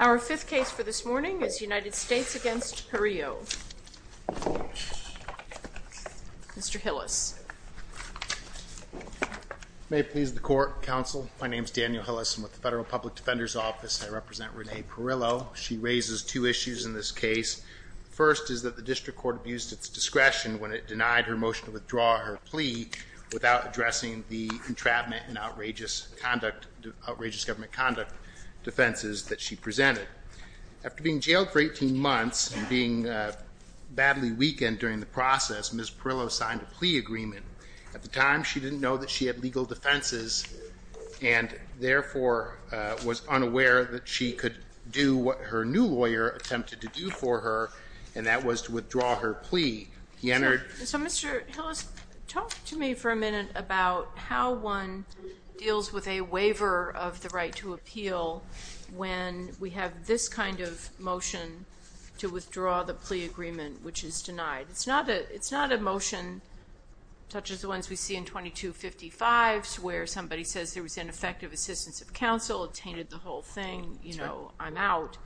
Our fifth case for this morning is United States v. Perillo. Mr. Hillis. May it please the Court, Counsel. My name is Daniel Hillis. I'm with the Federal Public Defender's Office. I represent Renee Perillo. She raises two issues in this case. First, is that the district court abused its discretion when it denied her motion to withdraw her plea without addressing the entrapment and outrageous government conduct defenses that she presented. After being jailed for 18 months and being badly weakened during the process, Ms. Perillo signed a plea agreement. At the time, she didn't know that she had legal defenses and therefore was unaware that she could do what her new lawyer attempted to do for her, and that was to withdraw her plea. He entered... So, Mr. Hillis, talk to me for a minute about how one deals with a waiver of the right to appeal when we have this kind of motion to withdraw the plea agreement, which is denied. It's not a motion such as the ones we see in 2255 where somebody says there was ineffective assistance of counsel, it tainted the whole thing, you know, I'm out.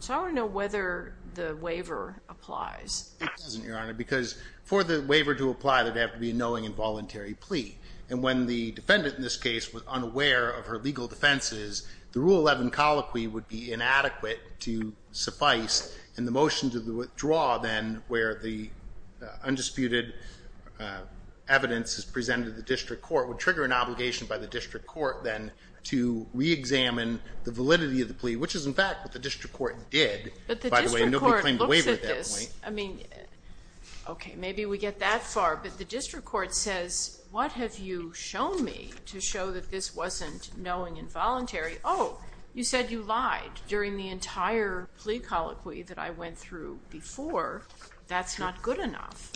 So I want to know whether the waiver applies. It doesn't, Your Honor, because for the waiver to apply, there'd have to be a knowing and voluntary plea. And when the defendant in this case was unaware of her legal defenses, the Rule 11 colloquy would be inadequate to suffice, and the motion to withdraw then where the undisputed evidence is presented to the district court would trigger an obligation by the district court then to re-examine the validity of the plea, which is in fact what the district court did. But the district court looks at this, I mean, okay, maybe we get that far, but the district court says, what have you shown me to show that this wasn't knowing and voluntary? Oh, you said you lied during the entire plea colloquy that I went through before. That's not good enough.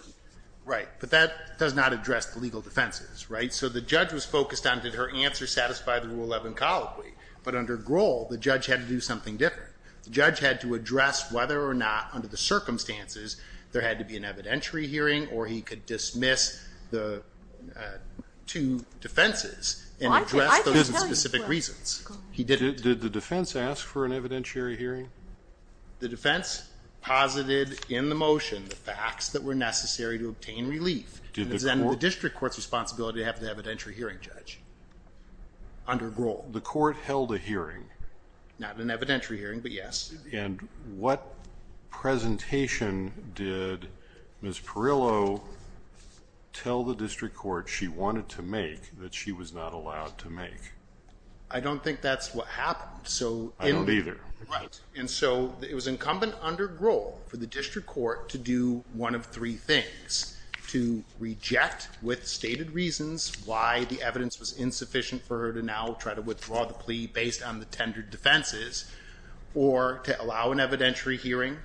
Right, but that does not address the legal defenses, right? So the judge was focused on did her answer satisfy the Rule 11 colloquy, but under Grohl, the judge had to do something different. The judge had to address whether or not, under the circumstances, there had to be an evidentiary hearing or he could dismiss the two defenses and address those in specific reasons. He didn't. Did the defense ask for an evidentiary hearing? The defense posited in the motion the facts that were necessary to obtain relief, and it was then the district court's responsibility to have the evidentiary hearing judge under Grohl. The court held a hearing. Not an evidentiary hearing, but yes. And what presentation did Ms. Perillo tell the district court she wanted to make that she was not allowed to make? I don't think that's what happened. I don't either. Right, and so it was incumbent under Grohl for the district court to do one of three things. To reject, with stated reasons, why the evidence was insufficient for her to now try to withdraw the plea based on the tendered defenses, or to allow an evidentiary hearing,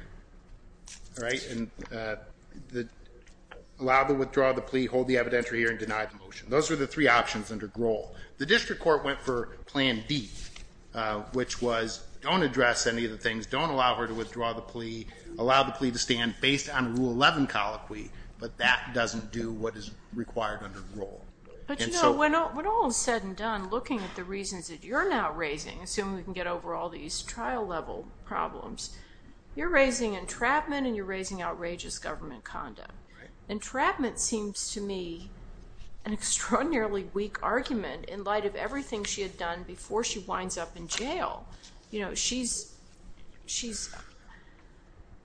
right, and allow to withdraw the plea, hold the evidentiary hearing, deny the motion. Those were the three options under Grohl. The district court went for plan B, which was don't address any of the things, don't allow her to withdraw the plea, allow the plea to stand based on Rule 11 colloquy, but that doesn't do what is required under Grohl. But you know, when all is said and done, looking at the reasons that you're now raising, assuming we can get over all these trial-level problems, you're raising entrapment and you're raising outrageous government conduct. Entrapment seems to me an extraordinarily weak argument in light of everything she had done before she winds up in jail. You know, she's, she's,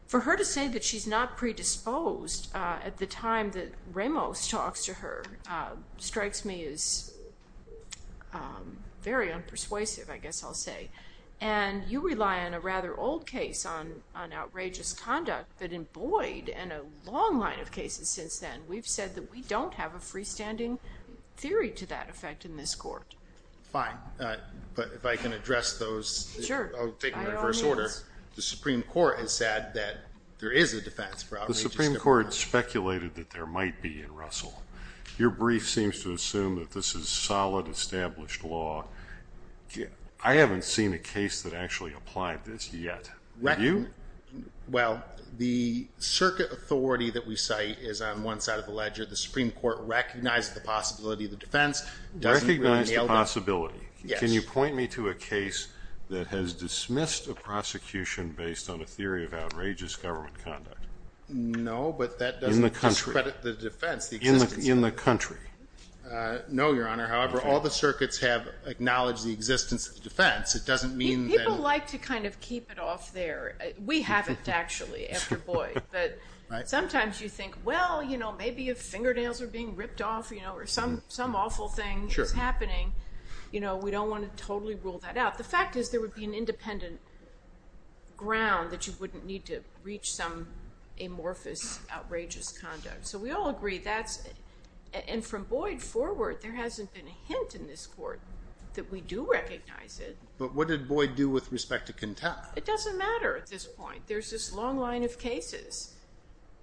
for her to say that she's not predisposed at the time that Ramos talks to her strikes me as very unpersuasive, I guess I'll say. And you rely on a rather old case on outrageous conduct, but in Boyd and a long line of cases since then, we've said that we don't have a freestanding theory to that effect in this case. But if I can address those, I'll take them in reverse order. The Supreme Court has said that there is a defense for outrageous conduct. The Supreme Court speculated that there might be in Russell. Your brief seems to assume that this is solid established law. I haven't seen a case that actually applied this yet. Do you? Well, the circuit authority that we cite is on one side of the ledger. The Supreme Court recognized the possibility of the defense. Recognize the possibility. Can you point me to a case that has dismissed a prosecution based on a theory of outrageous government conduct? No, but that doesn't discredit the defense in the country. No, Your Honor. However, all the circuits have acknowledged the existence of the defense. It doesn't mean that people like to kind of keep it off there. We haven't actually after Boyd, but sometimes you think, well, you know, maybe if fingernails are being ripped off, you know, or some awful thing is happening, you know, we don't want to totally rule that out. The fact is there would be an independent ground that you wouldn't need to reach some amorphous, outrageous conduct. So we all agree that's, and from Boyd forward, there hasn't been a hint in this court that we do recognize it. But what did Boyd do with respect to Kintel? It doesn't matter at this point. There's this long line of cases.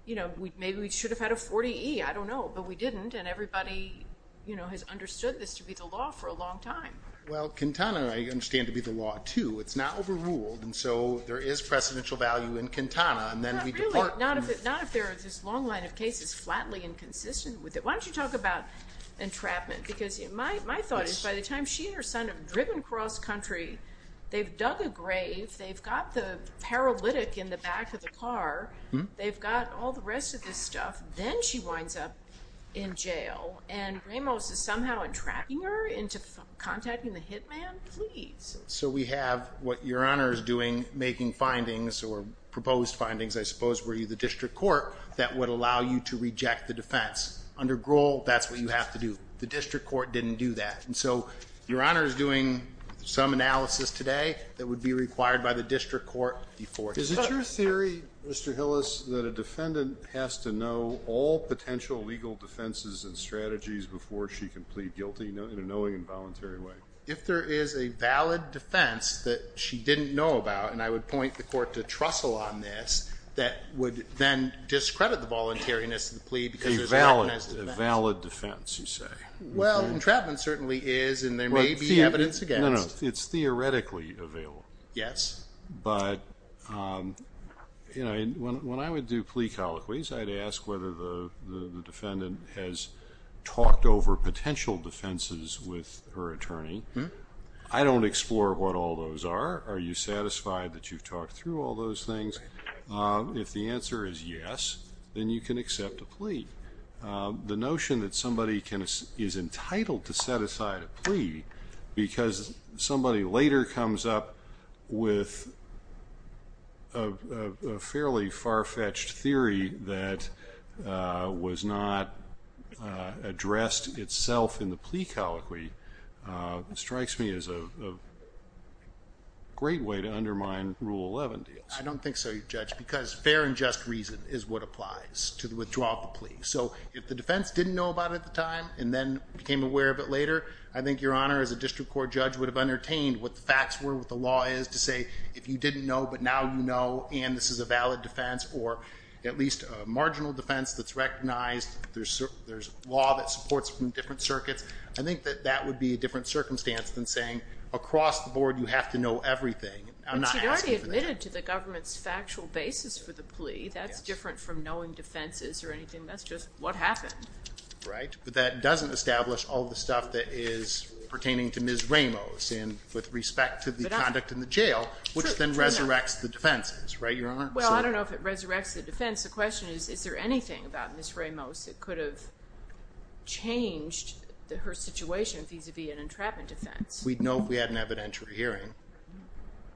You know, I don't know, but we didn't. And everybody, you know, has understood this to be the law for a long time. Well, Kintana, I understand to be the law too. It's not overruled. And so there is precedential value in Kintana. And then we depart. Not if there is this long line of cases, flatly inconsistent with it. Why don't you talk about entrapment? Because my thought is by the time she and her son have driven cross country, they've dug a grave, they've got the paralytic in the back of the car, they've got all the rest of this stuff. Then she winds up in jail and Ramos is somehow entrapping her into contacting the hit man? Please. So we have what Your Honor is doing, making findings or proposed findings, I suppose, were you the district court that would allow you to reject the defense. Under Grohl, that's what you have to do. The district court didn't do that. And so Your Honor is doing some analysis today that would be required by the district court. Is it your theory, Mr. Hillis, that a defendant has to know all potential legal defenses and strategies before she can plead guilty in a knowing and voluntary way? If there is a valid defense that she didn't know about, and I would point the court to Trussell on this, that would then discredit the voluntariness of the plea because there's no evidence to defend. A valid defense, you say? Well, entrapment certainly is and there may be evidence against. No, no. It's theoretically available. Yes. But, you know, when I would do plea colloquies, I'd ask whether the defendant has talked over potential defenses with her attorney. I don't explore what all those are. Are you satisfied that you've talked through all those things? If the answer is yes, then you can accept a plea. The notion that somebody is entitled to set aside a plea because somebody later comes up with a fairly far-fetched theory that was not addressed itself in the plea colloquy strikes me as a great way to undermine Rule 11 deals. I don't think so, Judge, because fair and just reason is what applies to the withdrawal of the plea. So if the defense didn't know about it at the time and then became aware of it later, I think your honor as a district court judge would have entertained what the facts were, what the law is to say if you didn't know but now you know and this is a valid defense or at least a marginal defense that's recognized. There's law that supports from different circuits. I think that that would be a different circumstance than saying across the board you have to know everything. I'm not asking for that. But you've already admitted to the government's factual basis for the plea. That's different from knowing defenses or anything. That's just what happened. Right, but that doesn't establish all the stuff that is pertaining to Ms. Ramos and with respect to the conduct in the jail which then resurrects the defenses, right your honor? Well, I don't know if it resurrects the defense. The question is, is there anything about Ms. Ramos that could have changed her situation vis-a-vis an entrapment defense? We'd know if we had an evidentiary hearing.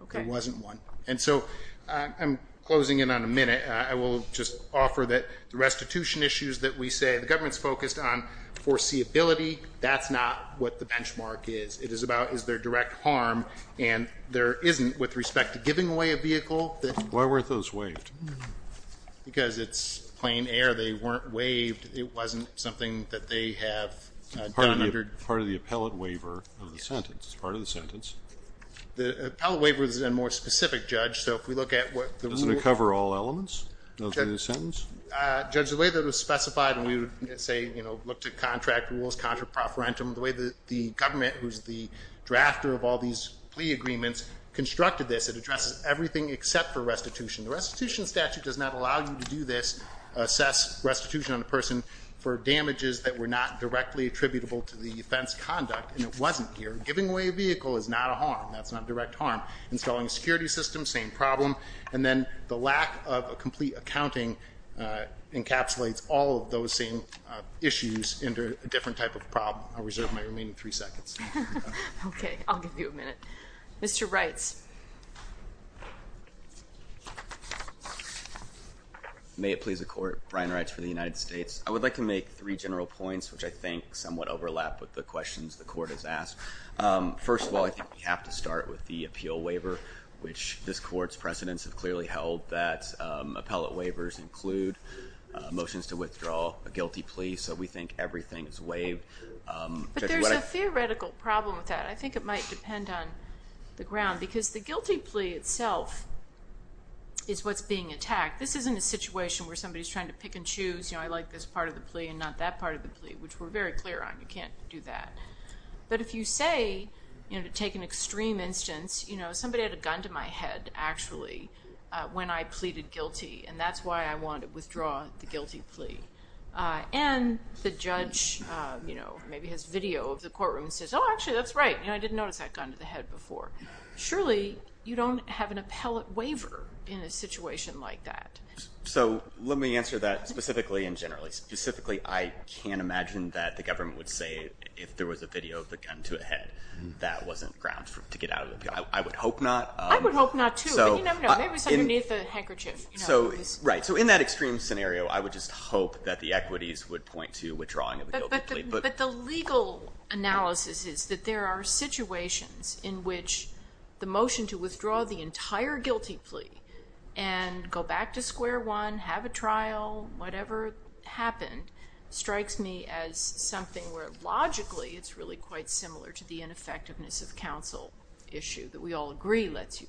Okay. There wasn't one. And so I'm closing in on a minute. I will just offer that the restitution issues that we say the government's focused on foreseeability, that's not what the benchmark is. It is about is there direct harm and there isn't with respect to giving away a vehicle. Why weren't those waived? Because it's plain air. They weren't waived. It wasn't something that they have done under Part of the appellate waiver of the sentence. It's part of the sentence. The appellate waiver is a more specific judge. So if we look at what... Does it cover all elements? Judge, the way that it was specified and we would say, you know, look to contract rules, contra proferentum, the way that the government, who's the drafter of all these plea agreements, constructed this, it addresses everything except for restitution. The restitution statute does not allow you to do this, assess restitution on a person for damages that were not directly attributable to the offense conduct and it wasn't here. Giving away a vehicle is not a harm. That's not direct harm. Installing a security system, same problem. And then the lack of a complete accounting encapsulates all of those same issues into a different type of problem. I'll reserve my remaining three seconds. Okay. I'll give you a minute. Mr. Reitz. May it please the court. Brian Reitz for the United States. I would like to make three general points, which I think somewhat overlap with the questions the court has asked. First of all, I think we have to start with the appeal waiver, which this court's precedents have clearly held that appellate waivers include motions to withdraw a guilty plea, so we think everything is waived. But there's a theoretical problem with that. I think it might depend on the ground because the guilty plea itself is what's being attacked. This isn't a situation where somebody's trying to pick and choose, you know, I like this part of the plea and not that part of the plea, which we're very clear on. You can't do that. But if you say, you know, to take an extreme instance, you know, somebody had a gun to my head, actually, when I pleaded guilty, and that's why I want to withdraw the guilty plea. And the judge, you know, maybe has video of the courtroom and says, Oh, actually, that's right. You know, I didn't notice that gun to the head before. Surely you don't have an appellate waiver in a situation like that. So let me answer that specifically and generally. Specifically, I can't imagine that the government would say if there was a video of the gun to a head, that wasn't grounds to get out of the appeal. I would hope not. I would hope not, too. But you never know. Maybe it was underneath the handkerchief. Right. So in that extreme scenario, I would just hope that the equities would point to withdrawing of the guilty plea. But the legal analysis is that there are situations in which the motion to withdraw the entire guilty plea and go back to square one, have a trial, whatever happened, strikes me as something where, logically, it's really quite similar to the ineffectiveness of counsel issue that we all agree lets you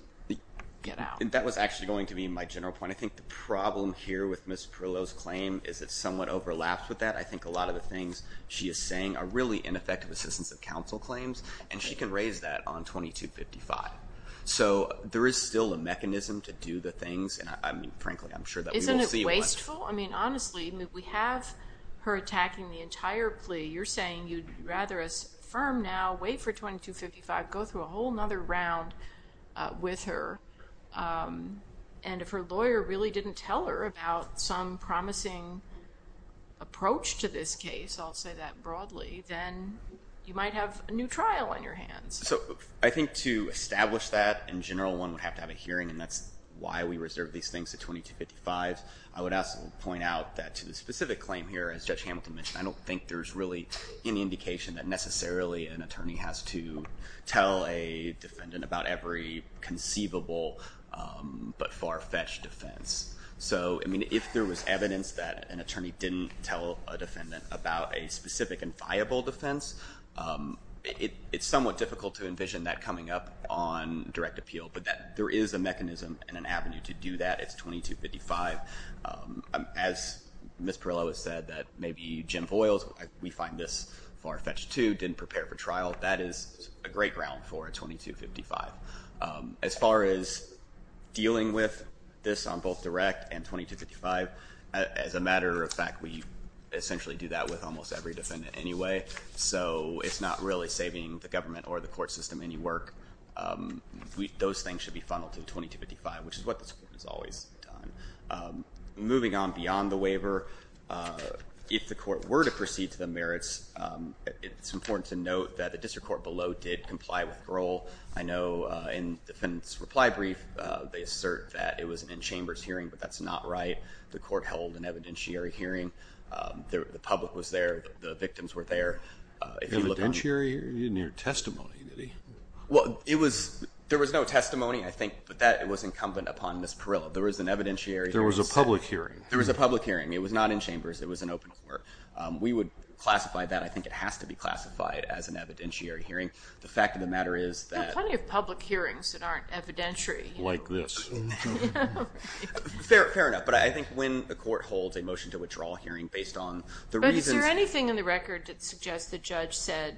get out. That was actually going to be my general point. I think the problem here with Ms. Pirillo's claim is it's somewhat overlapped with that. I think a lot of the things she is saying are really ineffective assistance of counsel claims, and she can raise that on 2255. So there is still a mechanism to do the things, and I mean, frankly, I'm sure that we will see one. Isn't it wasteful? I mean, honestly, we have her attacking the entire plea. You're saying you'd rather us affirm now, wait for 2255, go through a whole other round with her. And if her lawyer really didn't tell her about some promising approach to this case, I'll say that broadly, then you might have a new trial on your hands. So I think to establish that, in general, one would have to have a hearing, and that's why we reserve these things to 2255. I would also point out that to the specific claim here, as Judge Hamilton mentioned, I don't think there's really any indication that necessarily an attorney has to tell a defendant about every conceivable but far-fetched defense. So I mean, if there was evidence that an attorney didn't tell a defendant about a specific and it's somewhat difficult to envision that coming up on direct appeal, but there is a mechanism and an avenue to do that. It's 2255. As Ms. Perillo has said, that maybe Jim Voiles, we find this far-fetched too, didn't prepare for trial. That is a great ground for 2255. As far as dealing with this on both direct and 2255, as a matter of fact, we essentially do that with almost every defendant anyway. So it's not really saving the government or the court system any work. Those things should be funneled to 2255, which is what this Court has always done. Moving on beyond the waiver, if the Court were to proceed to the merits, it's important to note that the district court below did comply with the rule. I know in the defendant's reply brief, they assert that it was an in-chambers hearing, but that's not right. The Court held an evidentiary hearing. The public was there. The victims were there. Evidentiary in your testimony, did he? Well, there was no testimony, I think, but that was incumbent upon Ms. Perillo. There was an evidentiary. There was a public hearing. There was a public hearing. It was not in chambers. It was an open court. We would classify that. I think it has to be classified as an evidentiary hearing. The fact of the matter is that There are plenty of public hearings that aren't evidentiary. Like this. Fair enough, but I think when the Court holds a motion to withdraw hearing based on the reasons But is there anything in the record that suggests the judge said,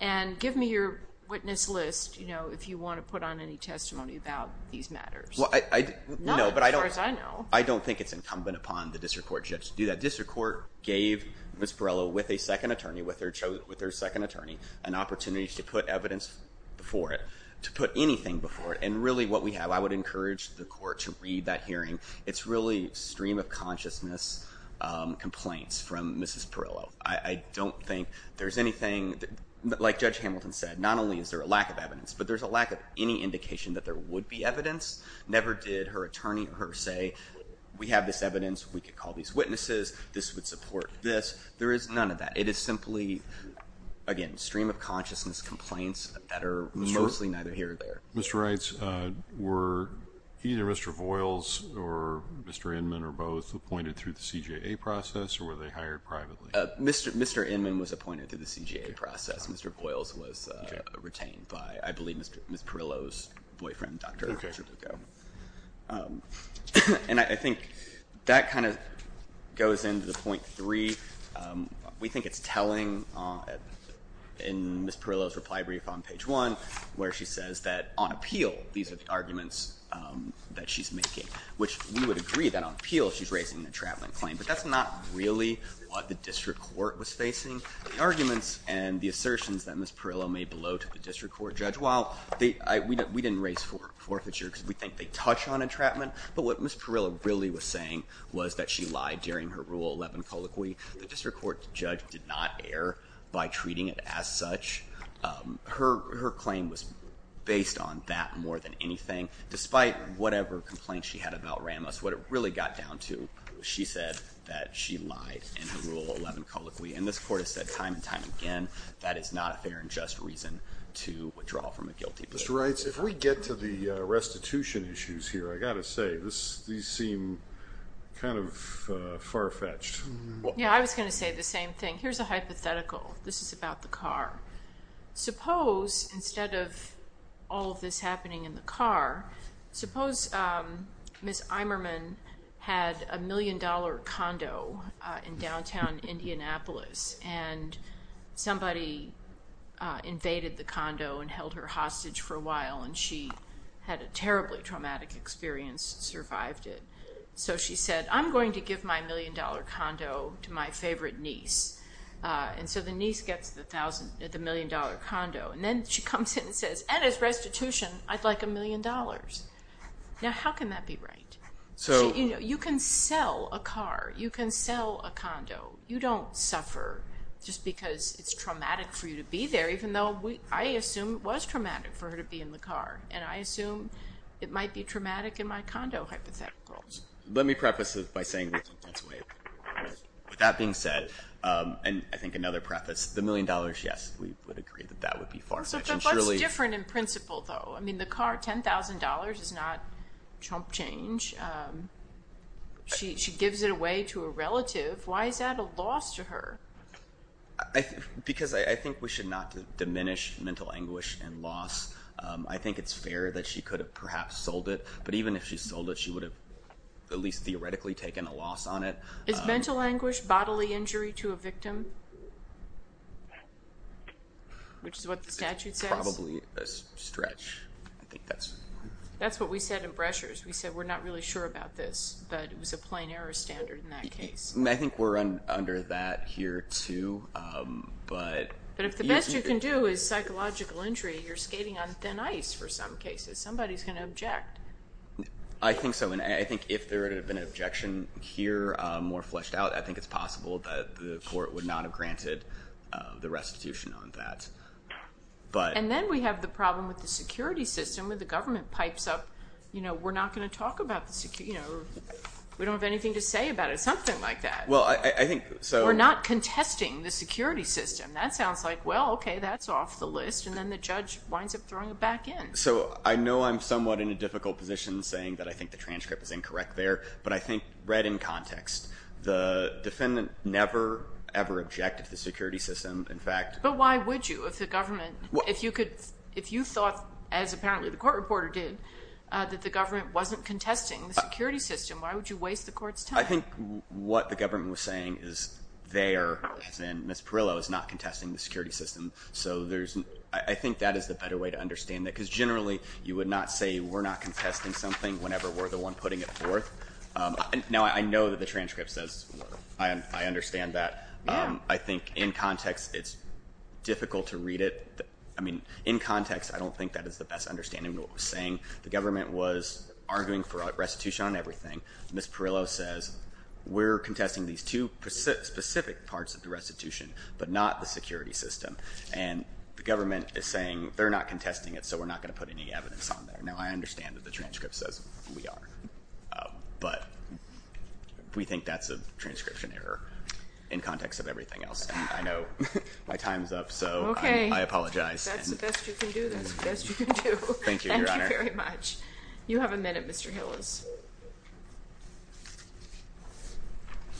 and give me your witness list if you want to put on any testimony about these matters? Not as far as I know. I don't think it's incumbent upon the district court judge to do that. District court gave Ms. Perillo with a second attorney, with her second attorney, an opportunity to put evidence before it, to put anything before it, and really what we have, I would encourage the court to read that hearing. It's really stream of consciousness complaints from Ms. Perillo. I don't think there's anything, like Judge Hamilton said, not only is there a lack of evidence, but there's a lack of any indication that there would be evidence. Never did her attorney or her say, we have this evidence, we could call these witnesses, this would support this. There is none of that. It is simply, again, stream of consciousness complaints that are mostly neither here nor there. Mr. Reitz, were either Mr. Voiles or Mr. Inman, or both, appointed through the CJA process or were they hired privately? Mr. Inman was appointed through the CJA process. Mr. Voiles was retained by, I believe, Ms. Perillo's boyfriend, Dr. Richard Ducco. And I think that kind of goes into the point three. We think it's telling in Ms. Perillo's lie brief on page one, where she says that on appeal, these are the arguments that she's making, which we would agree that on appeal, she's raising an entrapment claim, but that's not really what the district court was facing. The arguments and the assertions that Ms. Perillo made below to the district court judge, while we didn't raise forfeiture because we think they touch on entrapment, but what Ms. Perillo really was saying was that she lied during her Rule 11 colloquy. The district court judge did not err by treating it as such. Her claim was based on that more than anything, despite whatever complaint she had about Ramos. What it really got down to, she said that she lied in her Rule 11 colloquy. And this court has said time and time again, that is not a fair and just reason to withdraw from a guilty plea. Mr. Reitz, if we get to the restitution issues here, I've got to say, these seem kind of far-fetched. Yeah, I was going to say the same thing. Here's a hypothetical. This is about the car. Suppose instead of all of this happening in the car, suppose Ms. Imerman had a million-dollar condo in downtown Indianapolis and somebody invaded the condo and held her hostage for a while and she had a terribly traumatic experience, survived it. So she said, I'm going to give my million-dollar condo to my favorite niece. And so the niece gets the million-dollar condo. And then she comes in and says, and as restitution, I'd like a million dollars. Now, how can that be right? You can sell a car. You can sell a condo. You don't suffer just because it's traumatic for you to be there, even though I assume it was traumatic for her to be in the car. And I assume it might be traumatic in my condo hypotheticals. Let me preface this by saying, with that being said, and I think another preface, the million dollars, yes, we would agree that that would be far-fetched. But what's different in principle, though? I mean, the car, $10,000 is not chump change. She gives it away to a relative. Why is that a loss to her? Because I think we should not diminish mental anguish and loss. I think it's fair that she could have perhaps sold it. But even if she sold it, she would have at least theoretically taken a loss on it. Is mental anguish bodily injury to a victim? Which is what the statute says? Probably a stretch. I think that's... That's what we said in Breschers. We said we're not really sure about this. But it was a plain error standard in that case. I think we're under that here, too. But if the best you can do is psychological injury, you're skating on thin ice for some cases. Somebody's going to object. I think so. And I think if there had been an objection here more fleshed out, I think it's possible that the court would not have granted the restitution on that. And then we have the problem with the security system, where the government pipes up, you know, we're not going to talk about the security, you know, we don't have anything to say about it, something like that. Well, I think... We're not contesting the security system. That sounds like, well, okay, that's off the list. And then the judge winds up throwing it back in. I know I'm somewhat in a difficult position saying that I think the transcript is incorrect there. But I think read in context, the defendant never, ever objected to the security system. In fact... But why would you if the government... If you thought, as apparently the court reporter did, that the government wasn't contesting the security system, why would you waste the court's time? I think what the government was saying is there, as in Ms. Perillo is not contesting the security system. So there's... I think that is the better way to understand that. Because generally, you would not say we're not contesting something whenever we're the one putting it forth. Now, I know that the transcript says I understand that. I think in context, it's difficult to read it. I mean, in context, I don't think that is the best understanding of what we're saying. The government was arguing for restitution on everything. Ms. Perillo says we're contesting these two specific parts of the restitution, but not the security system. And the government is saying they're not contesting it, so we're not going to put any evidence on there. Now, I understand that the transcript says we are. But we think that's a transcription error in context of everything else. And I know my time's up, so I apologize. Okay. That's the best you can do. That's the best you can do. Thank you, Your Honor. Thank you very much. You have a minute, Mr. Hillis.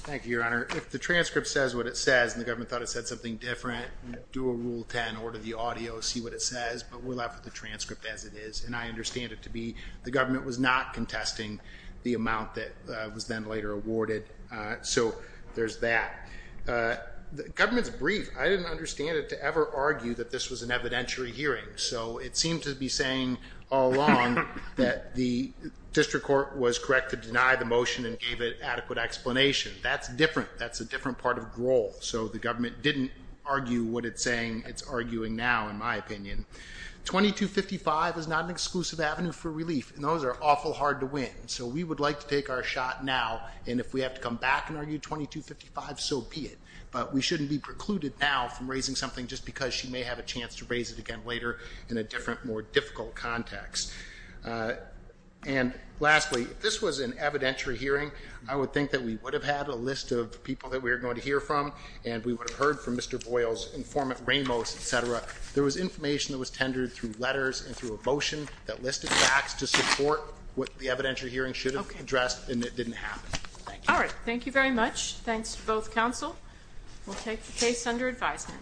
Thank you, Your Honor. If the transcript says what it says and the government thought it said something different, do a Rule 10, order the audio, see what it says. But we're left with the transcript as it is. And I understand it to be the government was not contesting the amount that was then later awarded. So there's that. Government's brief. I didn't understand it to ever argue that this was an evidentiary hearing. So it seemed to be saying all along that the district court was correct to deny the motion and gave it adequate explanation. That's different. That's a different part of the role. So the government didn't argue what it's saying. It's arguing now, in my opinion. 2255 is not an exclusive avenue for relief. And those are awful hard to win. So we would like to take our shot now. And if we have to come back and argue 2255, so be it. But we shouldn't be precluded now from raising something just because she may have a chance to raise it again later in a different, more difficult context. And lastly, this was an evidentiary hearing. I would think that we would have had a list of people that we're going to hear from. And we would have heard from Mr. Boyle's informant Ramos, etc. There was information that was tendered through letters and through a motion that listed facts to support what the evidentiary hearing should have addressed. And it didn't happen. All right. Thank you very much. Thanks to both counsel. We'll take the case under advisement.